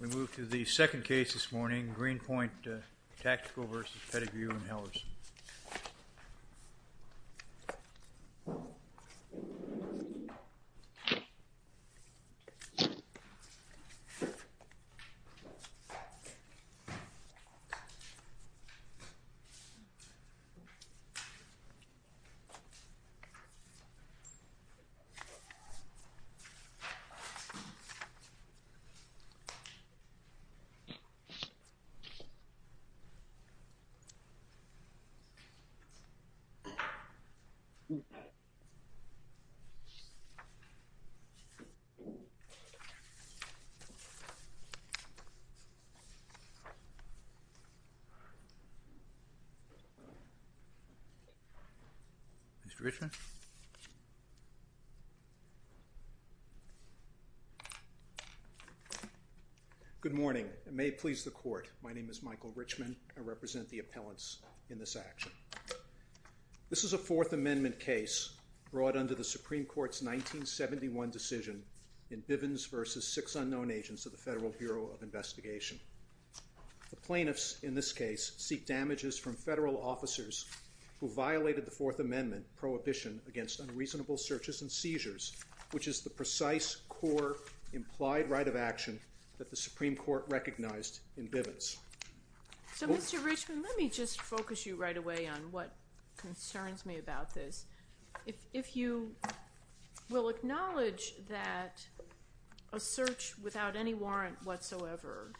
We move to the second case this morning, Greenpoint Tactical v. Pettigrew & Hellers. Mr. Richardson? Good morning. It may please the Court. My name is Michael Richman. I represent the appellants in this action. This is a Fourth Amendment case brought under the Supreme Court's 1971 decision in Bivens v. Six Unknown Agents of the Federal Bureau of Investigation. The plaintiffs in this case seek damages from federal officers who violated the Fourth Amendment prohibition against unreasonable searches and seizures, which is the precise, core, implied right of action that the Supreme Court recognized in Bivens. So, Mr. Richman, let me just focus you right away on what concerns me about this. If you will acknowledge that a search without any warrant whatsoever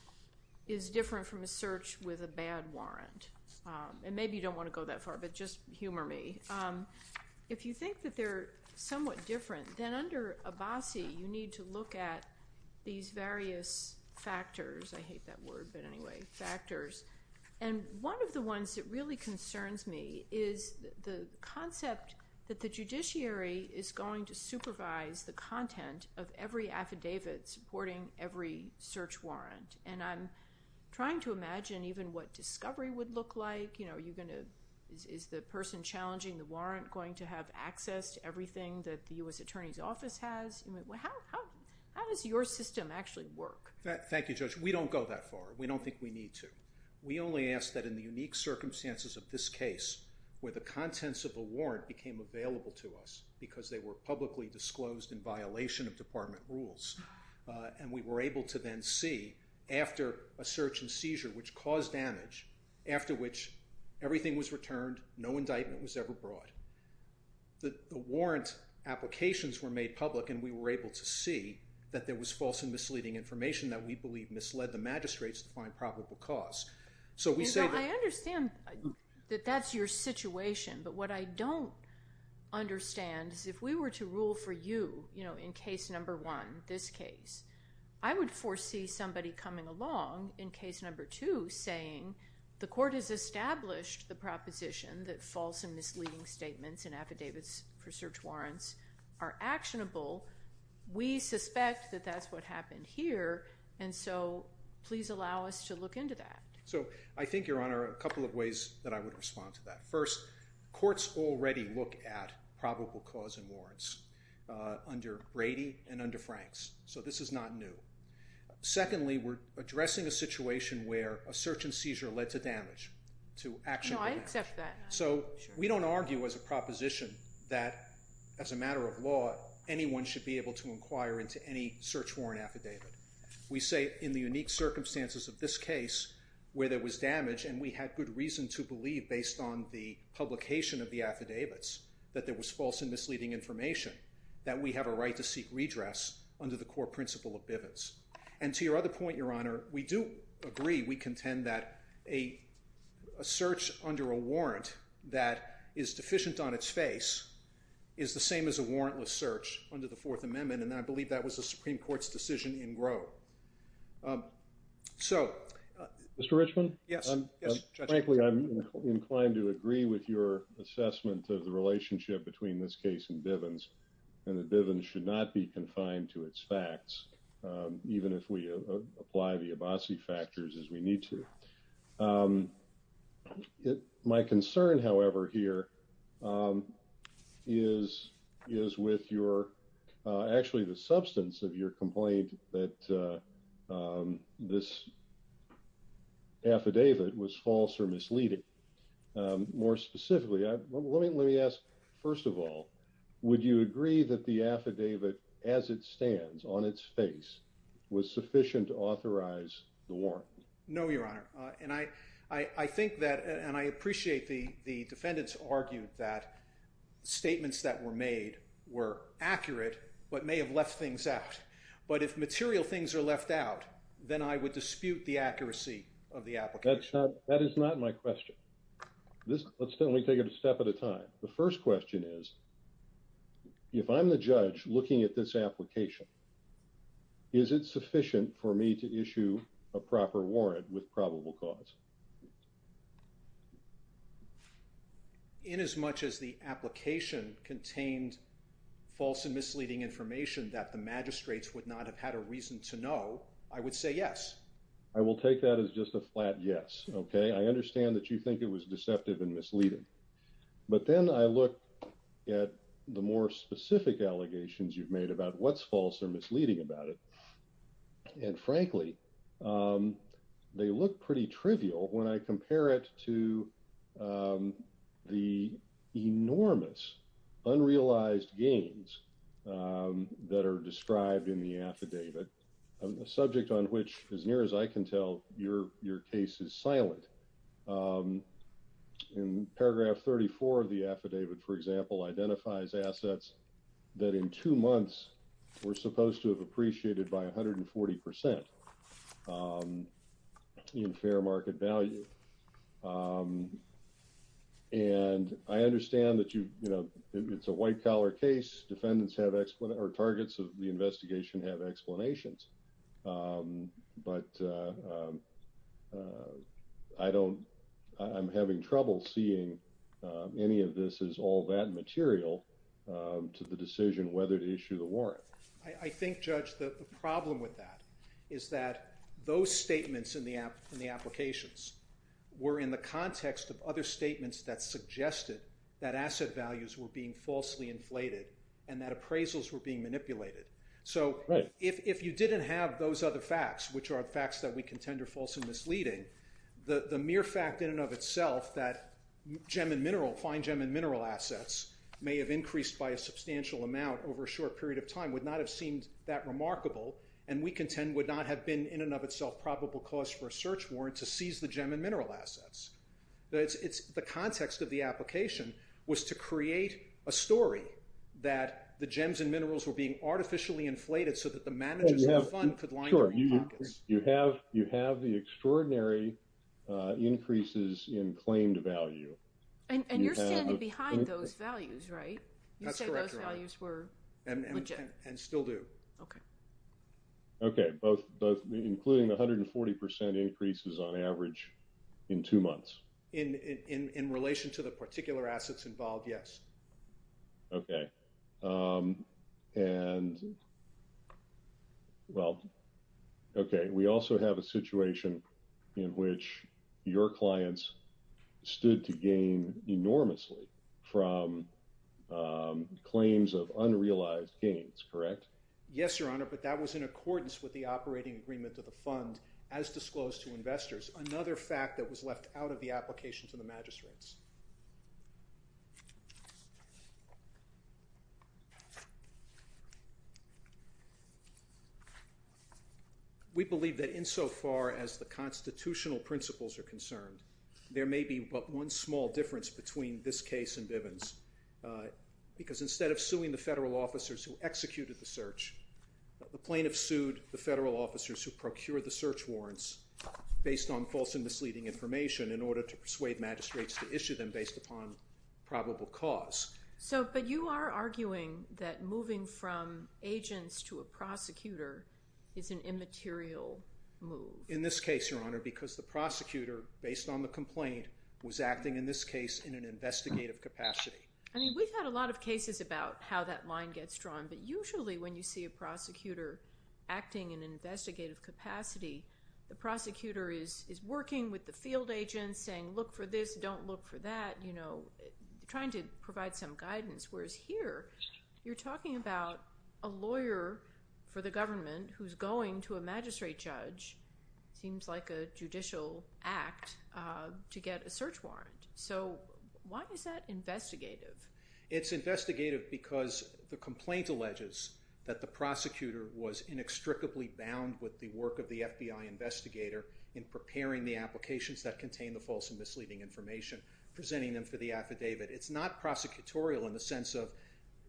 is different from a search with a bad warrant. And maybe you don't want to go that far, but just humor me. If you think that they're somewhat different, then under Abbasi, you need to look at these various factors. I hate that word, but anyway, factors. And one of the ones that really concerns me is the concept that the judiciary is going to supervise the content of every affidavit supporting every search warrant. And I'm trying to imagine even what discovery would look like. Is the person challenging the warrant going to have access to everything that the U.S. Attorney's Office has? How does your system actually work? Thank you, Judge. We don't go that far. We don't think we need to. We only ask that in the unique circumstances of this case where the contents of the warrant became available to us because they were publicly disclosed in violation of department rules and we were able to then see after a search and seizure which caused damage, after which everything was returned, no indictment was ever brought, the warrant applications were made public and we were able to see that there was false and misleading information that we believe misled the magistrates to find probable cause. I understand that that's your situation, but what I don't understand is if we were to rule for you in case number one, this case, I would foresee somebody coming along in case number two saying the court has established the proposition that false and misleading statements and affidavits for search warrants are actionable. We suspect that that's what happened here, and so please allow us to look into that. So I think, Your Honor, a couple of ways that I would respond to that. First, courts already look at probable cause in warrants under Brady and under Franks, so this is not new. Secondly, we're addressing a situation where a search and seizure led to damage, to actionable damage. No, I accept that. So we don't argue as a proposition that, as a matter of law, anyone should be able to inquire into any search warrant affidavit. We say in the unique circumstances of this case where there was damage and we had good reason to believe, based on the publication of the affidavits, that there was false and misleading information, that we have a right to seek redress under the core principle of Bivens. And to your other point, Your Honor, we do agree, we contend that a search under a warrant that is deficient on its face is the same as a warrantless search under the Fourth Amendment, and I believe that was the Supreme Court's decision in Grove. So... Mr. Richman? Yes. Frankly, I'm inclined to agree with your assessment of the relationship between this case and Bivens, and that Bivens should not be confined to its facts, even if we apply the Abbasi factors as we need to. My concern, however, here is with your... Actually, the substance of your complaint that this affidavit was false or misleading. More specifically, let me ask, first of all, would you agree that the affidavit, as it stands, on its face, was sufficient to authorize the warrant? No, Your Honor. And I think that, and I appreciate the defendants argued that statements that were made were accurate, but may have left things out. But if material things are left out, then I would dispute the accuracy of the application. That is not my question. Let's take it a step at a time. The first question is, if I'm the judge looking at this application, is it sufficient for me to issue a proper warrant with probable cause? Inasmuch as the application contained false and misleading information that the magistrates would not have had a reason to know, I would say yes. I will take that as just a flat yes, okay? I understand that you think it was deceptive and misleading. But then I look at the more specific allegations you've made about what's false or misleading about it, and frankly, they look pretty trivial when I compare it to the enormous unrealized gains that are described in the affidavit, a subject on which, as near as I can tell, your case is silent. In paragraph 34 of the affidavit, for example, identifies assets that in two months were supposed to have appreciated by 140% in fair market value. And I understand that it's a white-collar case. Defendants have—or targets of the investigation have explanations. But I don't—I'm having trouble seeing any of this as all that material to the decision whether to issue the warrant. I think, Judge, the problem with that is that those statements in the applications were in the context of other statements that suggested that asset values were being falsely inflated and that appraisals were being manipulated. So if you didn't have those other facts, which are the facts that we contend are false and misleading, the mere fact in and of itself that gem and mineral—fine gem and mineral assets may have increased by a substantial amount over a short period of time would not have seemed that remarkable and we contend would not have been in and of itself probable cause for a search warrant to seize the gem and mineral assets. The context of the application was to create a story that the gems and minerals were being artificially inflated so that the managers of the fund could line their own pockets. You have the extraordinary increases in claimed value. And you're standing behind those values, right? That's correct, Your Honor. You said those values were legit. And still do. Okay. Okay, both—including the 140 percent increases on average in two months. In relation to the particular assets involved, yes. Okay. And—well, okay, we also have a situation in which your clients stood to gain enormously from claims of unrealized gains, correct? Yes, Your Honor, but that was in accordance with the operating agreement of the fund as disclosed to investors, another fact that was left out of the application to the magistrates. We believe that insofar as the constitutional principles are concerned, there may be but one small difference between this case and Bivens, because instead of suing the federal officers who executed the search, the plaintiffs sued the federal officers who procured the search warrants based on false and misleading information in order to persuade magistrates to issue them based upon probable cause. But you are arguing that moving from agents to a prosecutor is an immaterial move. In this case, Your Honor, because the prosecutor, based on the complaint, was acting in this case in an investigative capacity. I mean, we've had a lot of cases about how that line gets drawn, but usually when you see a prosecutor acting in an investigative capacity, the prosecutor is working with the field agents, saying look for this, don't look for that, trying to provide some guidance. Whereas here, you're talking about a lawyer for the government who's going to a magistrate judge, seems like a judicial act, to get a search warrant. So why is that investigative? It's investigative because the complaint alleges that the prosecutor was inextricably bound with the work of the FBI investigator in preparing the applications that contain the false and misleading information, presenting them for the affidavit. It's not prosecutorial in the sense of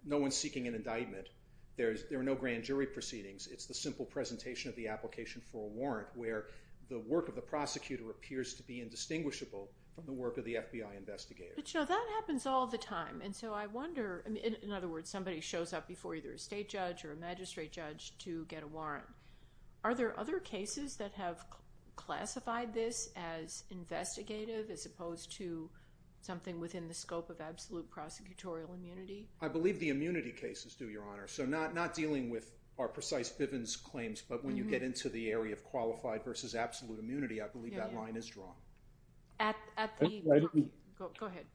no one seeking an indictment. There are no grand jury proceedings. It's the simple presentation of the application for a warrant where the work of the prosecutor appears to be indistinguishable from the work of the FBI investigator. But, you know, that happens all the time, and so I wonder, in other words, somebody shows up before either a state judge or a magistrate judge to get a warrant. Are there other cases that have classified this as investigative as opposed to something within the scope of absolute prosecutorial immunity? I believe the immunity cases do, Your Honor. So not dealing with our precise Bivens claims, but when you get into the area of qualified versus absolute immunity, I believe that line is drawn. Go ahead.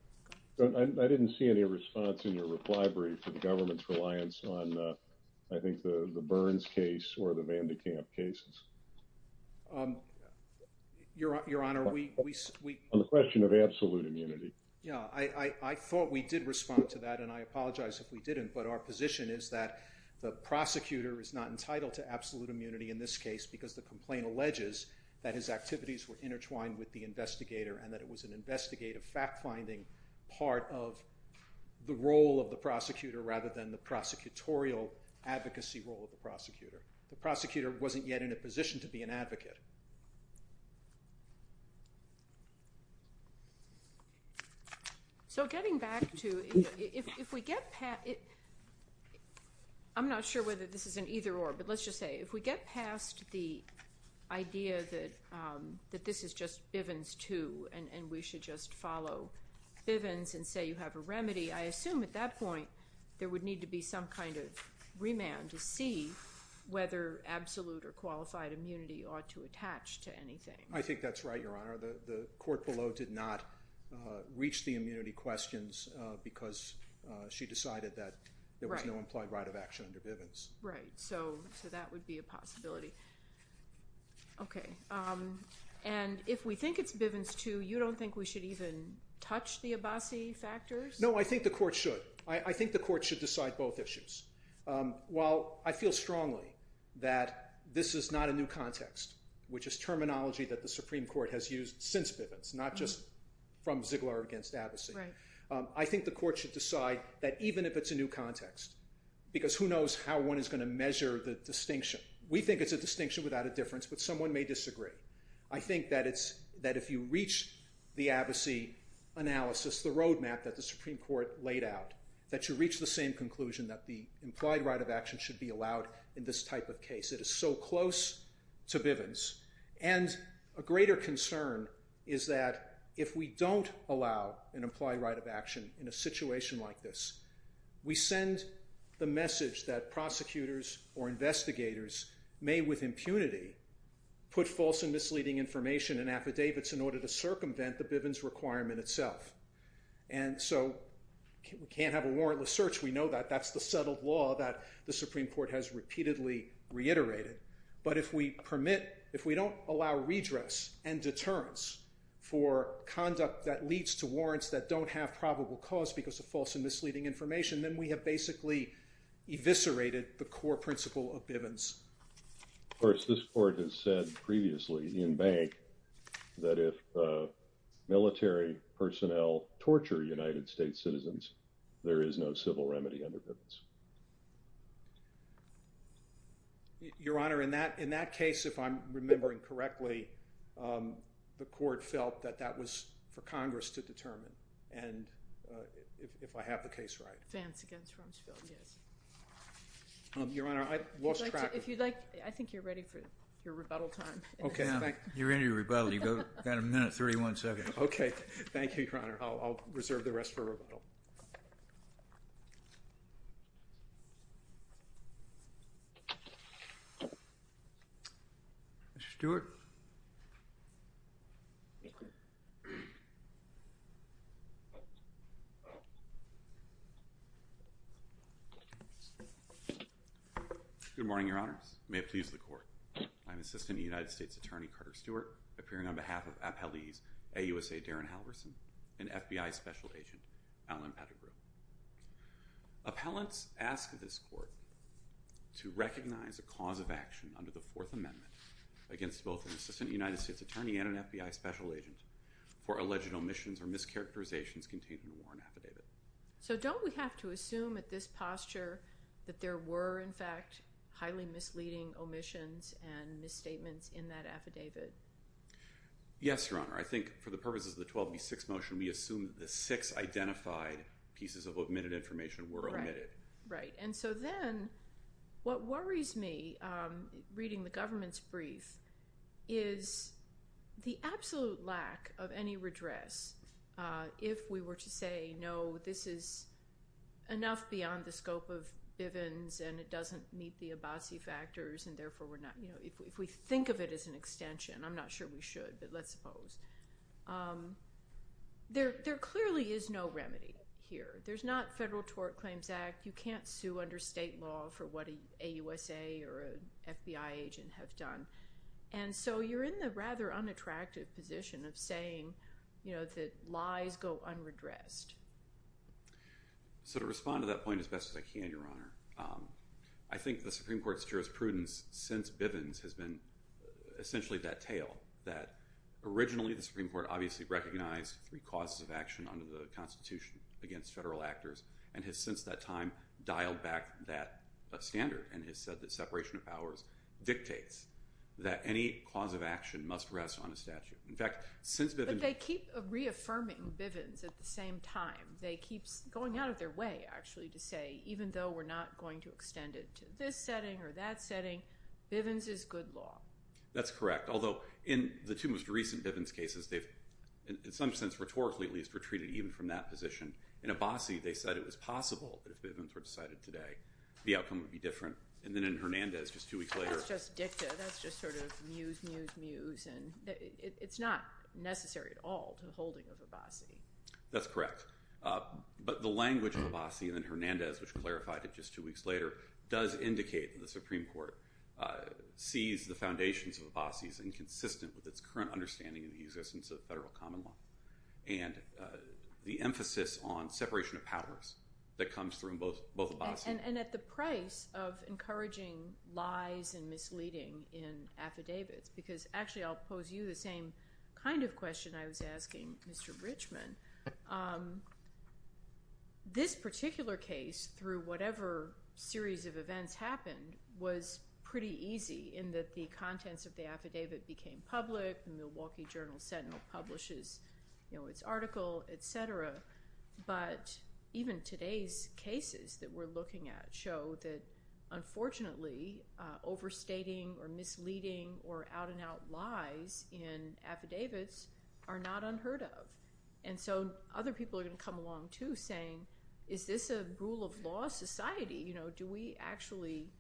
I didn't see any response in your reply brief to the government's reliance on, I think, the Burns case or the Vandekamp cases. Your Honor, we... On the question of absolute immunity. Yeah, I thought we did respond to that, and I apologize if we didn't, but our position is that the prosecutor is not entitled to absolute immunity in this case because the complaint alleges that his activities were intertwined with the investigator and that it was an investigative fact-finding part of the role of the prosecutor rather than the prosecutorial advocacy role of the prosecutor. The prosecutor wasn't yet in a position to be an advocate. So getting back to... I'm not sure whether this is an either-or, but let's just say, if we get past the idea that this is just Bivens 2 and we should just follow Bivens and say you have a remedy, I assume at that point there would need to be some kind of remand to see whether absolute or qualified immunity ought to attach to anything. I think that's right, Your Honor. The court below did not reach the immunity questions because she decided that there was no implied right of action under Bivens. Right, so that would be a possibility. Okay, and if we think it's Bivens 2, you don't think we should even touch the Abbasi factors? No, I think the court should. I think the court should decide both issues. While I feel strongly that this is not a new context, which is terminology that the Supreme Court has used since Bivens, not just from Ziegler against Abbasi, I think the court should decide that even if it's a new context, because who knows how one is going to measure the distinction. We think it's a distinction without a difference, but someone may disagree. I think that if you reach the Abbasi analysis, the roadmap that the Supreme Court laid out, that you reach the same conclusion that the implied right of action should be allowed in this type of case. It is so close to Bivens, and a greater concern is that if we don't allow an implied right of action in a situation like this, we send the message that prosecutors or investigators may with impunity put false and misleading information in affidavits in order to circumvent the Bivens requirement itself. And so we can't have a warrantless search, we know that. That's the settled law that the Supreme Court has repeatedly reiterated. But if we permit, if we don't allow redress and deterrence for conduct that leads to warrants that don't have probable cause because of false and misleading information, then we have basically eviscerated the core principle of Bivens. Of course, this Court has said previously in Bank that if military personnel torture United States citizens, there is no civil remedy under Bivens. Your Honor, in that case, if I'm remembering correctly, the Court felt that that was for Congress to determine. And if I have the case right. Vance against Rumsfeld, yes. Your Honor, I lost track of... If you'd like, I think you're ready for your rebuttal time. Okay, you're ready to rebuttal. You've got a minute and 31 seconds. Okay, thank you, Your Honor. I'll reserve the rest for rebuttal. Mr. Stewart. Good morning, Your Honors. May it please the Court. I'm Assistant United States Attorney Carter Stewart, appearing on behalf of Appellees AUSA Darren Halverson and FBI Special Agent Alan Pettigrew. Appellants ask this Court to recognize a cause of action under the Fourth Amendment against both an Assistant United States Attorney and an FBI Special Agent for alleged omissions or mischaracterizations contained in a warrant affidavit. So don't we have to assume at this posture that there were, in fact, highly misleading omissions and misstatements in that affidavit? Yes, Your Honor. I think for the purposes of the 12B6 motion, we assume that the six identified pieces of omitted information were omitted. Right. And so then, what worries me, reading the government's brief, is the absolute lack of any redress if we were to say, no, this is enough beyond the scope of Bivens and it doesn't meet the Abbasi factors and, therefore, if we think of it as an extension, I'm not sure we should, but let's suppose. There clearly is no remedy here. There's not Federal Tort Claims Act. You can't sue under state law for what an AUSA or an FBI agent have done. And so you're in the rather unattractive position of saying that lies go unredressed. So to respond to that point as best as I can, Your Honor, I think the Supreme Court's jurisprudence since Bivens has been essentially that tale, that originally the Supreme Court obviously recognized three causes of action under the Constitution against federal actors and has since that time dialed back that standard and has said that separation of powers dictates that any cause of action must rest on a statute. But they keep reaffirming Bivens at the same time. They keep going out of their way, actually, to say, even though we're not going to extend it to this setting or that setting, Bivens is good law. That's correct, although in the two most recent Bivens cases, they've, in some sense, rhetorically at least, retreated even from that position. In Abbasi, they said it was possible that if Bivens were decided today, the outcome would be different. And then in Hernandez, just two weeks later... That's not just dicta. That's just sort of muse, muse, muse. It's not necessary at all to the holding of Abbasi. That's correct. But the language of Abbasi and then Hernandez, which clarified it just two weeks later, does indicate that the Supreme Court sees the foundations of Abbasi as inconsistent with its current understanding of the existence of federal common law and the emphasis on separation of powers that comes from both Abbasi... And at the price of encouraging lies and misleading in affidavits, because actually I'll pose you the same kind of question I was asking Mr. Richman. This particular case, through whatever series of events happened, was pretty easy in that the contents of the affidavit became public, the Milwaukee Journal Sentinel publishes its article, et cetera. But even today's cases that we're looking at show that, unfortunately, overstating or misleading or out-and-out lies in affidavits are not unheard of. And so other people are going to come along too, saying, is this a rule-of-law society? Do we actually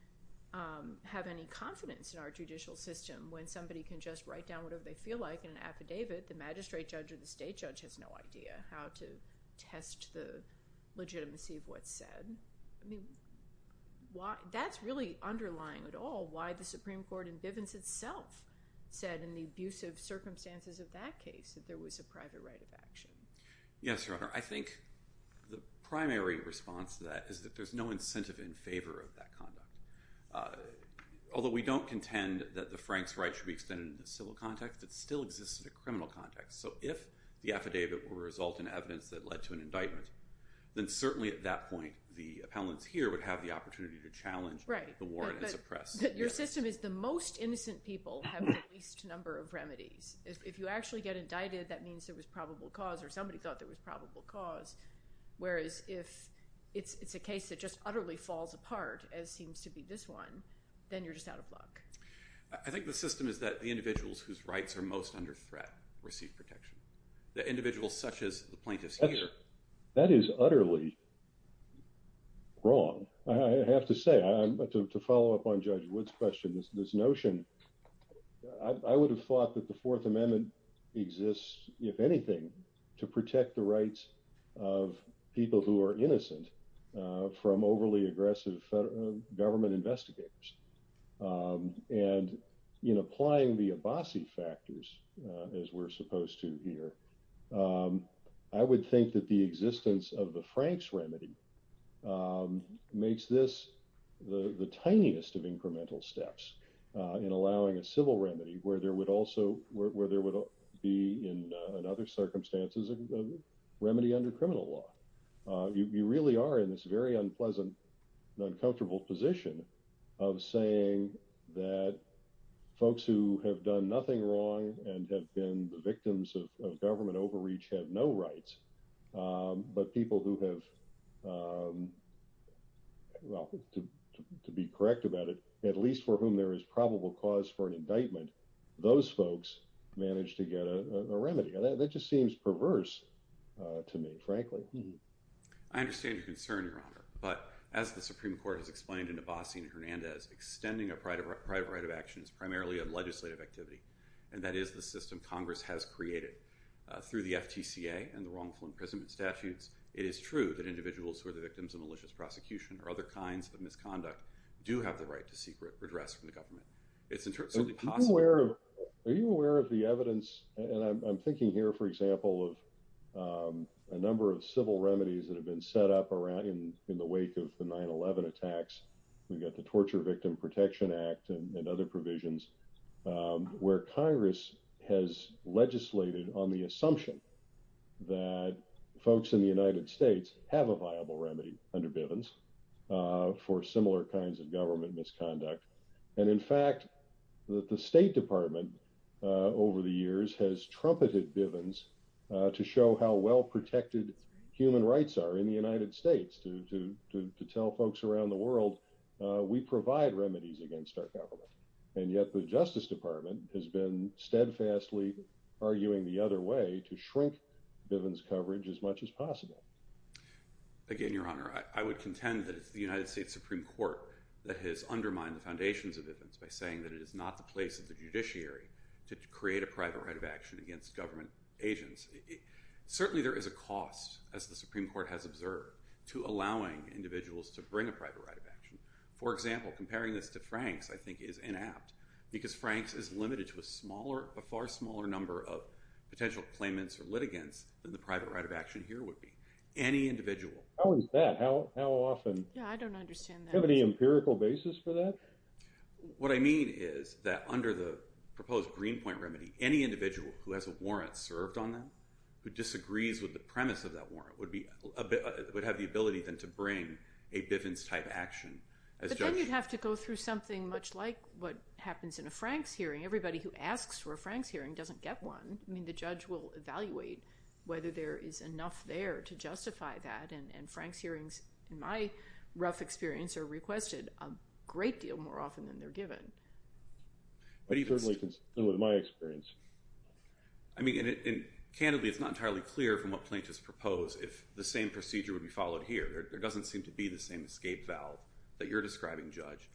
have any confidence in our judicial system when somebody can just write down whatever they feel like in an affidavit? The magistrate judge or the state judge has no idea how to test the legitimacy of what's said. I mean, that's really underlying it all, why the Supreme Court in Bivens itself said in the abusive circumstances of that case that there was a private right of action. Yes, Your Honor. I think the primary response to that is that there's no incentive in favor of that conduct. Although we don't contend that the Franks' right should be extended into the civil context, it still exists in a criminal context. So if the affidavit will result in evidence that led to an indictment, then certainly at that point the appellants here would have the opportunity to challenge the warrant and suppress. But your system is the most innocent people have the least number of remedies. If you actually get indicted, that means there was probable cause or somebody thought there was probable cause, whereas if it's a case that just utterly falls apart, as seems to be this one, then you're just out of luck. I think the system is that the individuals whose rights are most under threat receive protection. The individuals such as the plaintiffs here... That is utterly wrong. I have to say, to follow up on Judge Wood's question, this notion, I would have thought that the Fourth Amendment exists, if anything, to protect the rights of people who are innocent from overly aggressive government investigators. And in applying the Abbasi factors, as we're supposed to here, I would think that the existence of the Franks remedy makes this the tiniest of incremental steps in allowing a civil remedy where there would also be, in other circumstances, a remedy under criminal law. You really are in this very unpleasant and uncomfortable position of saying that folks who have done nothing wrong and have been the victims of government overreach have no rights, but people who have, to be correct about it, at least for whom there is probable cause for an indictment, those folks manage to get a remedy. That just seems perverse to me, frankly. I understand your concern, Your Honor. But as the Supreme Court has explained in Abbasi and Hernandez, extending a private right of action is primarily a legislative activity, and that is the system Congress has created. Through the FTCA and the wrongful imprisonment statutes, it is true that individuals who are the victims of malicious prosecution or other kinds of misconduct do have the right to seek redress from the government. Are you aware of the evidence, and I'm thinking here, for example, of a number of civil remedies that have been set up in the wake of the 9-11 attacks? We've got the Torture Victim Protection Act and other provisions where Congress has legislated on the assumption that folks in the United States have a viable remedy under Bivens for similar kinds of government misconduct. And in fact, the State Department over the years has trumpeted Bivens to show how well-protected human rights are in the United States, to tell folks around the world we provide remedies against our government. And yet the Justice Department has been steadfastly arguing the other way to shrink Bivens coverage as much as possible. Again, Your Honor, I would contend that it's the United States Supreme Court that has undermined the foundations of Bivens by saying that it is not the place of the judiciary to create a private right of action against government agents. Certainly there is a cost, as the Supreme Court has observed, to allowing individuals to bring a private right of action. For example, comparing this to Franks, I think, is inapt because Franks is limited to a far smaller number of potential claimants or litigants than the private right of action here would be. Any individual. How is that? How often? Yeah, I don't understand that. Do you have any empirical basis for that? What I mean is that under the proposed Greenpoint remedy, any individual who has a warrant served on them, who disagrees with the premise of that warrant, would have the ability then to bring a Bivens-type action. But then you'd have to go through something much like what happens in a Franks hearing. Everybody who asks for a Franks hearing doesn't get one. I mean, the judge will evaluate whether there is enough there to justify that. And Franks hearings, in my rough experience, are requested a great deal more often than they're given. I certainly can say that with my experience. I mean, and candidly, it's not entirely clear from what plaintiffs propose if the same procedure would be followed here. There doesn't seem to be the same escape valve that you're describing, Judge.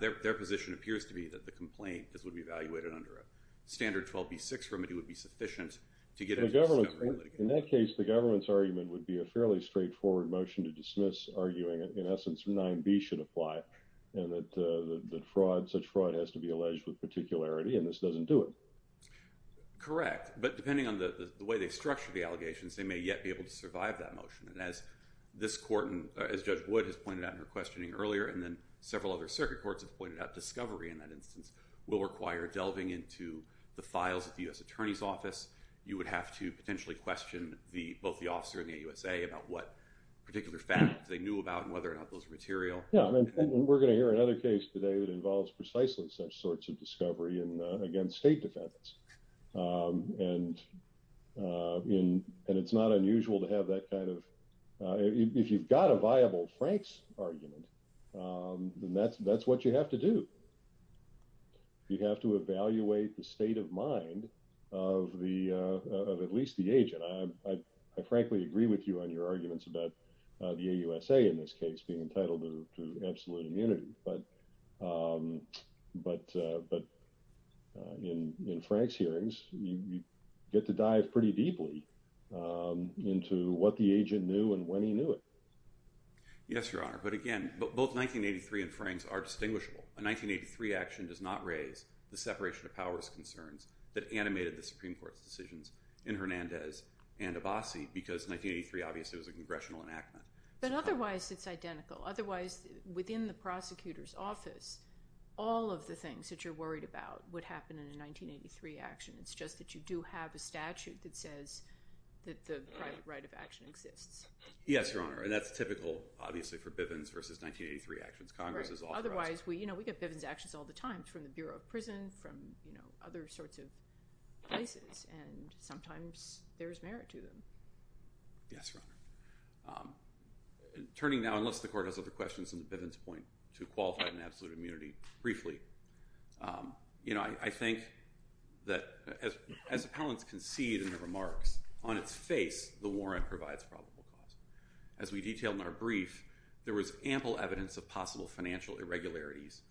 Their position appears to be that the complaint, as would be evaluated under a standard 12B6 remedy, would be sufficient to get a government litigation. It would be a fairly straightforward motion to dismiss, arguing in essence 9B should apply, and that such fraud has to be alleged with particularity, and this doesn't do it. Correct. But depending on the way they structure the allegations, they may yet be able to survive that motion. And as Judge Wood has pointed out in her questioning earlier, and then several other circuit courts have pointed out, discovery in that instance will require delving into the files at the U.S. Attorney's Office. You would have to potentially question both the officer and the AUSA about what particular facts they knew about and whether or not those were material. Yeah, and we're going to hear another case today that involves precisely such sorts of discovery against state defense, and it's not unusual to have that kind of – if you've got a viable Franks argument, then that's what you have to do. You have to evaluate the state of mind of at least the agent. I frankly agree with you on your arguments about the AUSA in this case being entitled to absolute immunity, but in Franks hearings, you get to dive pretty deeply into what the agent knew and when he knew it. Yes, Your Honor, but again, both 1983 and Franks are distinguishable. A 1983 action does not raise the separation of powers concerns that animated the Supreme Court's decisions in Hernandez and Abbasi because 1983 obviously was a congressional enactment. But otherwise, it's identical. Otherwise, within the prosecutor's office, all of the things that you're worried about would happen in a 1983 action. It's just that you do have a statute that says that the private right of action exists. Yes, Your Honor, and that's typical, obviously, for Bivens versus 1983 actions. Otherwise, we get Bivens actions all the time from the Bureau of Prison, from other sorts of places, and sometimes there's merit to them. Yes, Your Honor. Turning now, unless the court has other questions on the Bivens point to qualified and absolute immunity, briefly, I think that as appellants concede in their remarks, on its face, the warrant provides probable cause. As we detailed in our brief, there was ample evidence of possible financial irregularities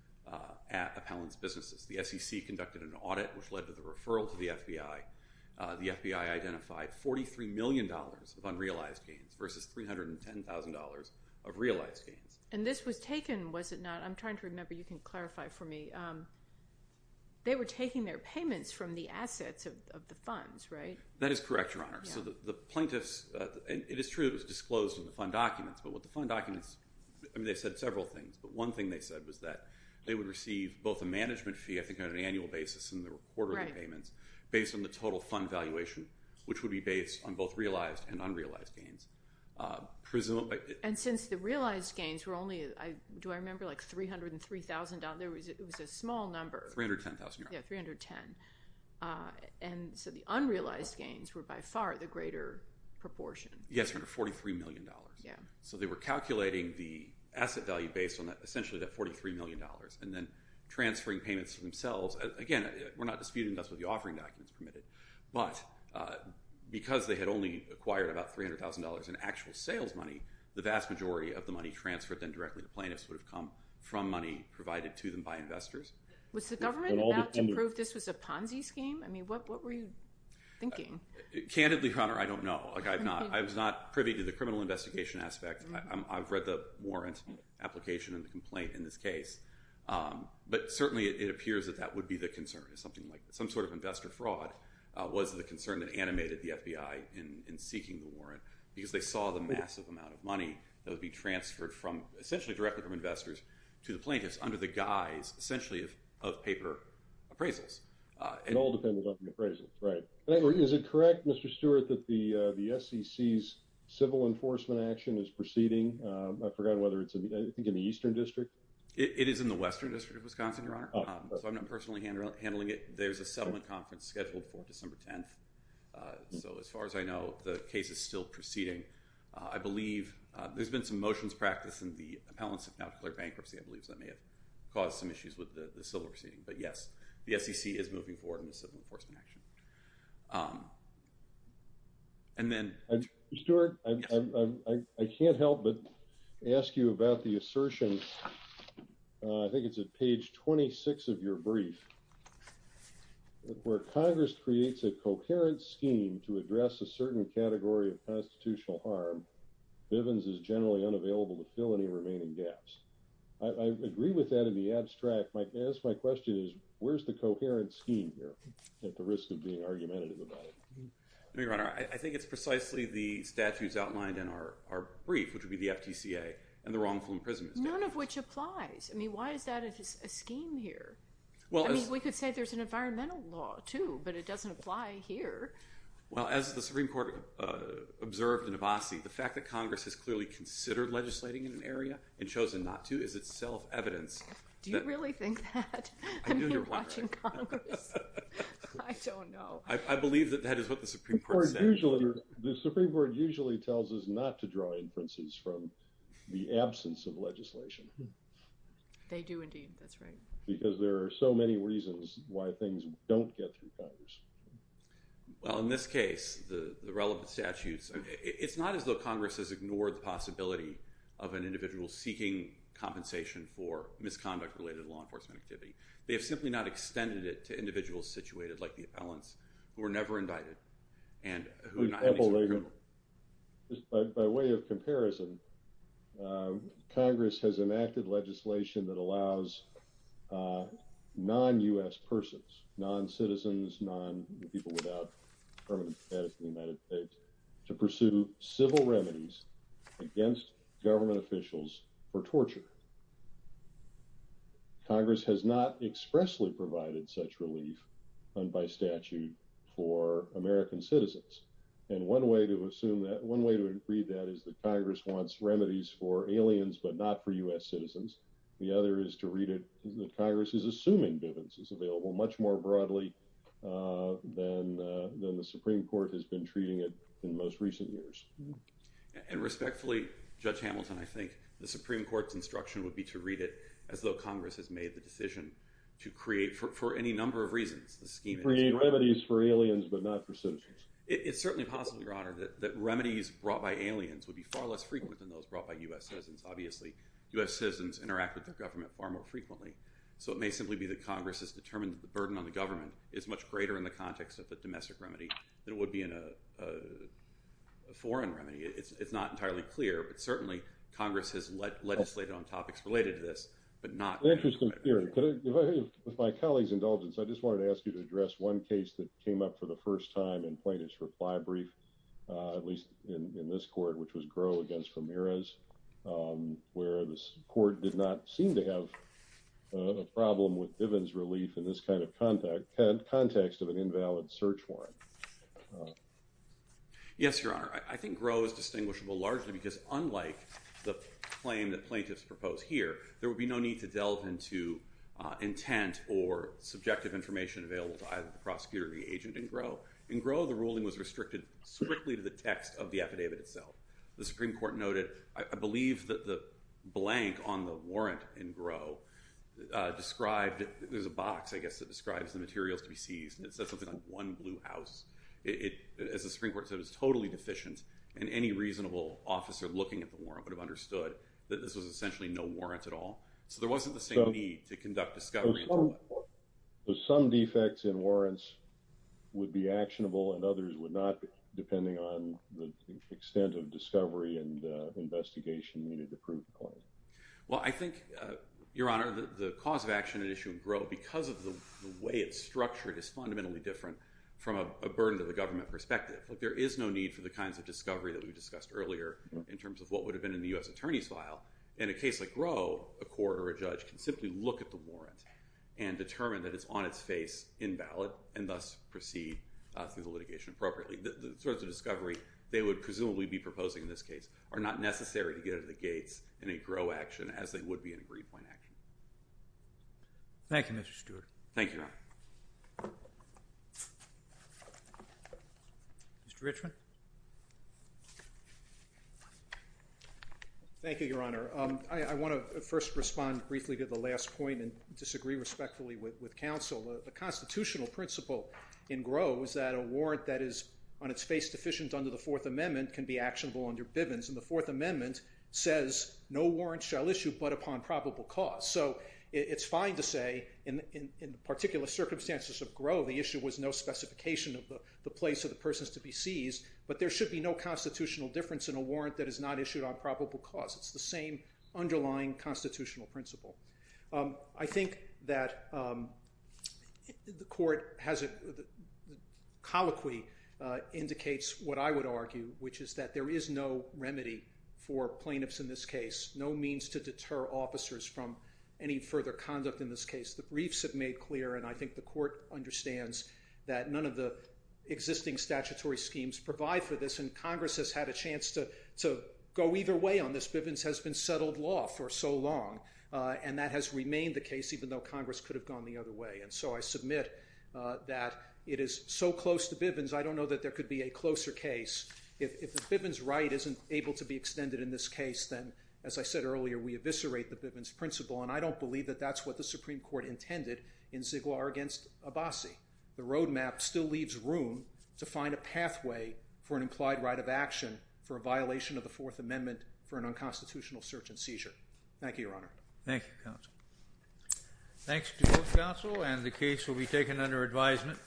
at appellants' businesses. The SEC conducted an audit which led to the referral to the FBI. The FBI identified $43 million of unrealized gains versus $310,000 of realized gains. And this was taken, was it not? I'm trying to remember. You can clarify for me. They were taking their payments from the assets of the funds, right? That is correct, Your Honor. So the plaintiffs, it is true it was disclosed in the fund documents, but what the fund documents, I mean, they said several things, but one thing they said was that they would receive both a management fee, I think on an annual basis, and the quarterly payments, based on the total fund valuation, which would be based on both realized and unrealized gains. And since the realized gains were only, do I remember, like $303,000? It was a small number. $310,000, Your Honor. Yes, $310,000. And so the unrealized gains were by far the greater proportion. Yes, Your Honor, $43 million. So they were calculating the asset value based on essentially that $43 million and then transferring payments for themselves. Again, we're not disputing this with the offering documents permitted, but because they had only acquired about $300,000 in actual sales money, the vast majority of the money transferred then directly to plaintiffs would have come from money provided to them by investors. Was the government about to prove this was a Ponzi scheme? I mean, what were you thinking? Candidly, Your Honor, I don't know. I was not privy to the criminal investigation aspect. I've read the warrant application and the complaint in this case. But certainly it appears that that would be the concern, something like some sort of investor fraud was the concern that animated the FBI in seeking the warrant because they saw the massive amount of money that would be transferred essentially directly from investors to the plaintiffs under the guise essentially of paper appraisals. It all depends on the appraisals, right. Is it correct, Mr. Stewart, that the SEC's civil enforcement action is proceeding? I forgot whether it's I think in the Eastern District. It is in the Western District of Wisconsin, Your Honor. So I'm not personally handling it. There's a settlement conference scheduled for December 10th. So as far as I know, the case is still proceeding. I believe there's been some motions practiced and the appellants have now declared bankruptcy. I believe that may have caused some issues with the civil proceeding. But, yes, the SEC is moving forward in the civil enforcement action. And then – Mr. Stewart, I can't help but ask you about the assertion, I think it's at page 26 of your brief, where Congress creates a coherent scheme to address a certain category of constitutional harm, Bivens is generally unavailable to fill any remaining gaps. I agree with that in the abstract. My question is where's the coherent scheme here at the risk of being argumentative about it? Your Honor, I think it's precisely the statutes outlined in our brief, which would be the FTCA and the wrongful imprisonment statute. None of which applies. I mean, why is that a scheme here? I mean, we could say there's an environmental law too, but it doesn't apply here. Well, as the Supreme Court observed in Avasi, the fact that Congress has clearly considered legislating in an area and chosen not to is itself evidence that – Do you really think that? I know you're wondering. I mean, you're watching Congress. I don't know. I believe that that is what the Supreme Court said. The Supreme Court usually tells us not to draw inferences from the absence of legislation. They do indeed. That's right. Because there are so many reasons why things don't get through Congress. Well, in this case, the relevant statutes – it's not as though Congress has ignored the possibility of an individual seeking compensation for misconduct-related law enforcement activity. They have simply not extended it to individuals situated, like the appellants, who were never indicted. And who – By way of comparison, Congress has enacted legislation that allows non-U.S. persons, non-citizens, people without permanent status in the United States, to pursue civil remedies against government officials for torture. Congress has not expressly provided such relief, and by statute, for American citizens. And one way to assume that – one way to read that is that Congress wants remedies for aliens but not for U.S. citizens. The other is to read it – that Congress is assuming Bivens is available much more broadly than the Supreme Court has been treating it in most recent years. And respectfully, Judge Hamilton, I think the Supreme Court's instruction would be to read it as though Congress has made the decision to create – for any number of reasons – to create remedies for aliens but not for citizens. It's certainly possible, Your Honor, that remedies brought by aliens would be far less frequent than those brought by U.S. citizens. Obviously, U.S. citizens interact with their government far more frequently. So it may simply be that Congress has determined that the burden on the government is much greater in the context of a domestic remedy than it would be in a foreign remedy. It's not entirely clear, but certainly Congress has legislated on topics related to this, but not – Interesting theory. With my colleague's indulgence, I just wanted to ask you to address one case that came up for the first time in plaintiff's reply brief, at least in this court, which was Groh against Ramirez, where the court did not seem to have a problem with Diven's relief in this kind of context of an invalid search warrant. Yes, Your Honor. I think Groh is distinguishable largely because, unlike the claim that plaintiffs propose here, there would be no need to delve into intent or subjective information available to either the prosecutor or the agent in Groh. In Groh, the ruling was restricted strictly to the text of the affidavit itself. The Supreme Court noted, I believe that the blank on the warrant in Groh described – there's a box, I guess, that describes the materials to be seized, and it says something like one blue house. As the Supreme Court said, it was totally deficient, and any reasonable officer looking at the warrant would have understood that this was essentially no warrant at all. So there wasn't the same need to conduct discovery into it. Some defects in warrants would be actionable and others would not, depending on the extent of discovery and investigation needed to prove the claim. Well, I think, Your Honor, the cause of action at issue in Groh, because of the way it's structured, is fundamentally different from a burden-to-the-government perspective. There is no need for the kinds of discovery that we discussed earlier in terms of what would have been in the U.S. attorney's file. In a case like Groh, a court or a judge can simply look at the warrant and determine that it's on its face, invalid, and thus proceed through the litigation appropriately. The sorts of discovery they would presumably be proposing in this case are not necessary to get out of the gates in a Groh action as they would be in a Greenpoint action. Thank you, Mr. Stewart. Thank you, Your Honor. Mr. Richman? Thank you, Your Honor. I want to first respond briefly to the last point and disagree respectfully with counsel. The constitutional principle in Groh is that a warrant that is on its face, deficient, under the Fourth Amendment can be actionable under Bivens. And the Fourth Amendment says, no warrant shall issue but upon probable cause. So it's fine to say, in particular circumstances of Groh, the issue was no specification of the place of the persons to be seized, but there should be no constitutional difference in a warrant that is not issued on probable cause. It's the same underlying constitutional principle. I think that the court has a... colloquy indicates what I would argue, which is that there is no remedy for plaintiffs in this case, no means to deter officers from any further conduct in this case. The briefs have made clear, and I think the court understands that none of the existing statutory schemes provide for this, and Congress has had a chance to go either way on this. Bivens has been settled law for so long. And that has remained the case, even though Congress could have gone the other way. And so I submit that it is so close to Bivens, I don't know that there could be a closer case. If the Bivens right isn't able to be extended in this case, then, as I said earlier, we eviscerate the Bivens principle. And I don't believe that that's what the Supreme Court intended in Ziggler against Abbasi. The roadmap still leaves room to find a pathway for an implied right of action for a violation of the Fourth Amendment for an unconstitutional search and seizure. Thank you, Your Honor. Thank you, Counsel. Thanks to both counsel, and the case will be taken under advisement.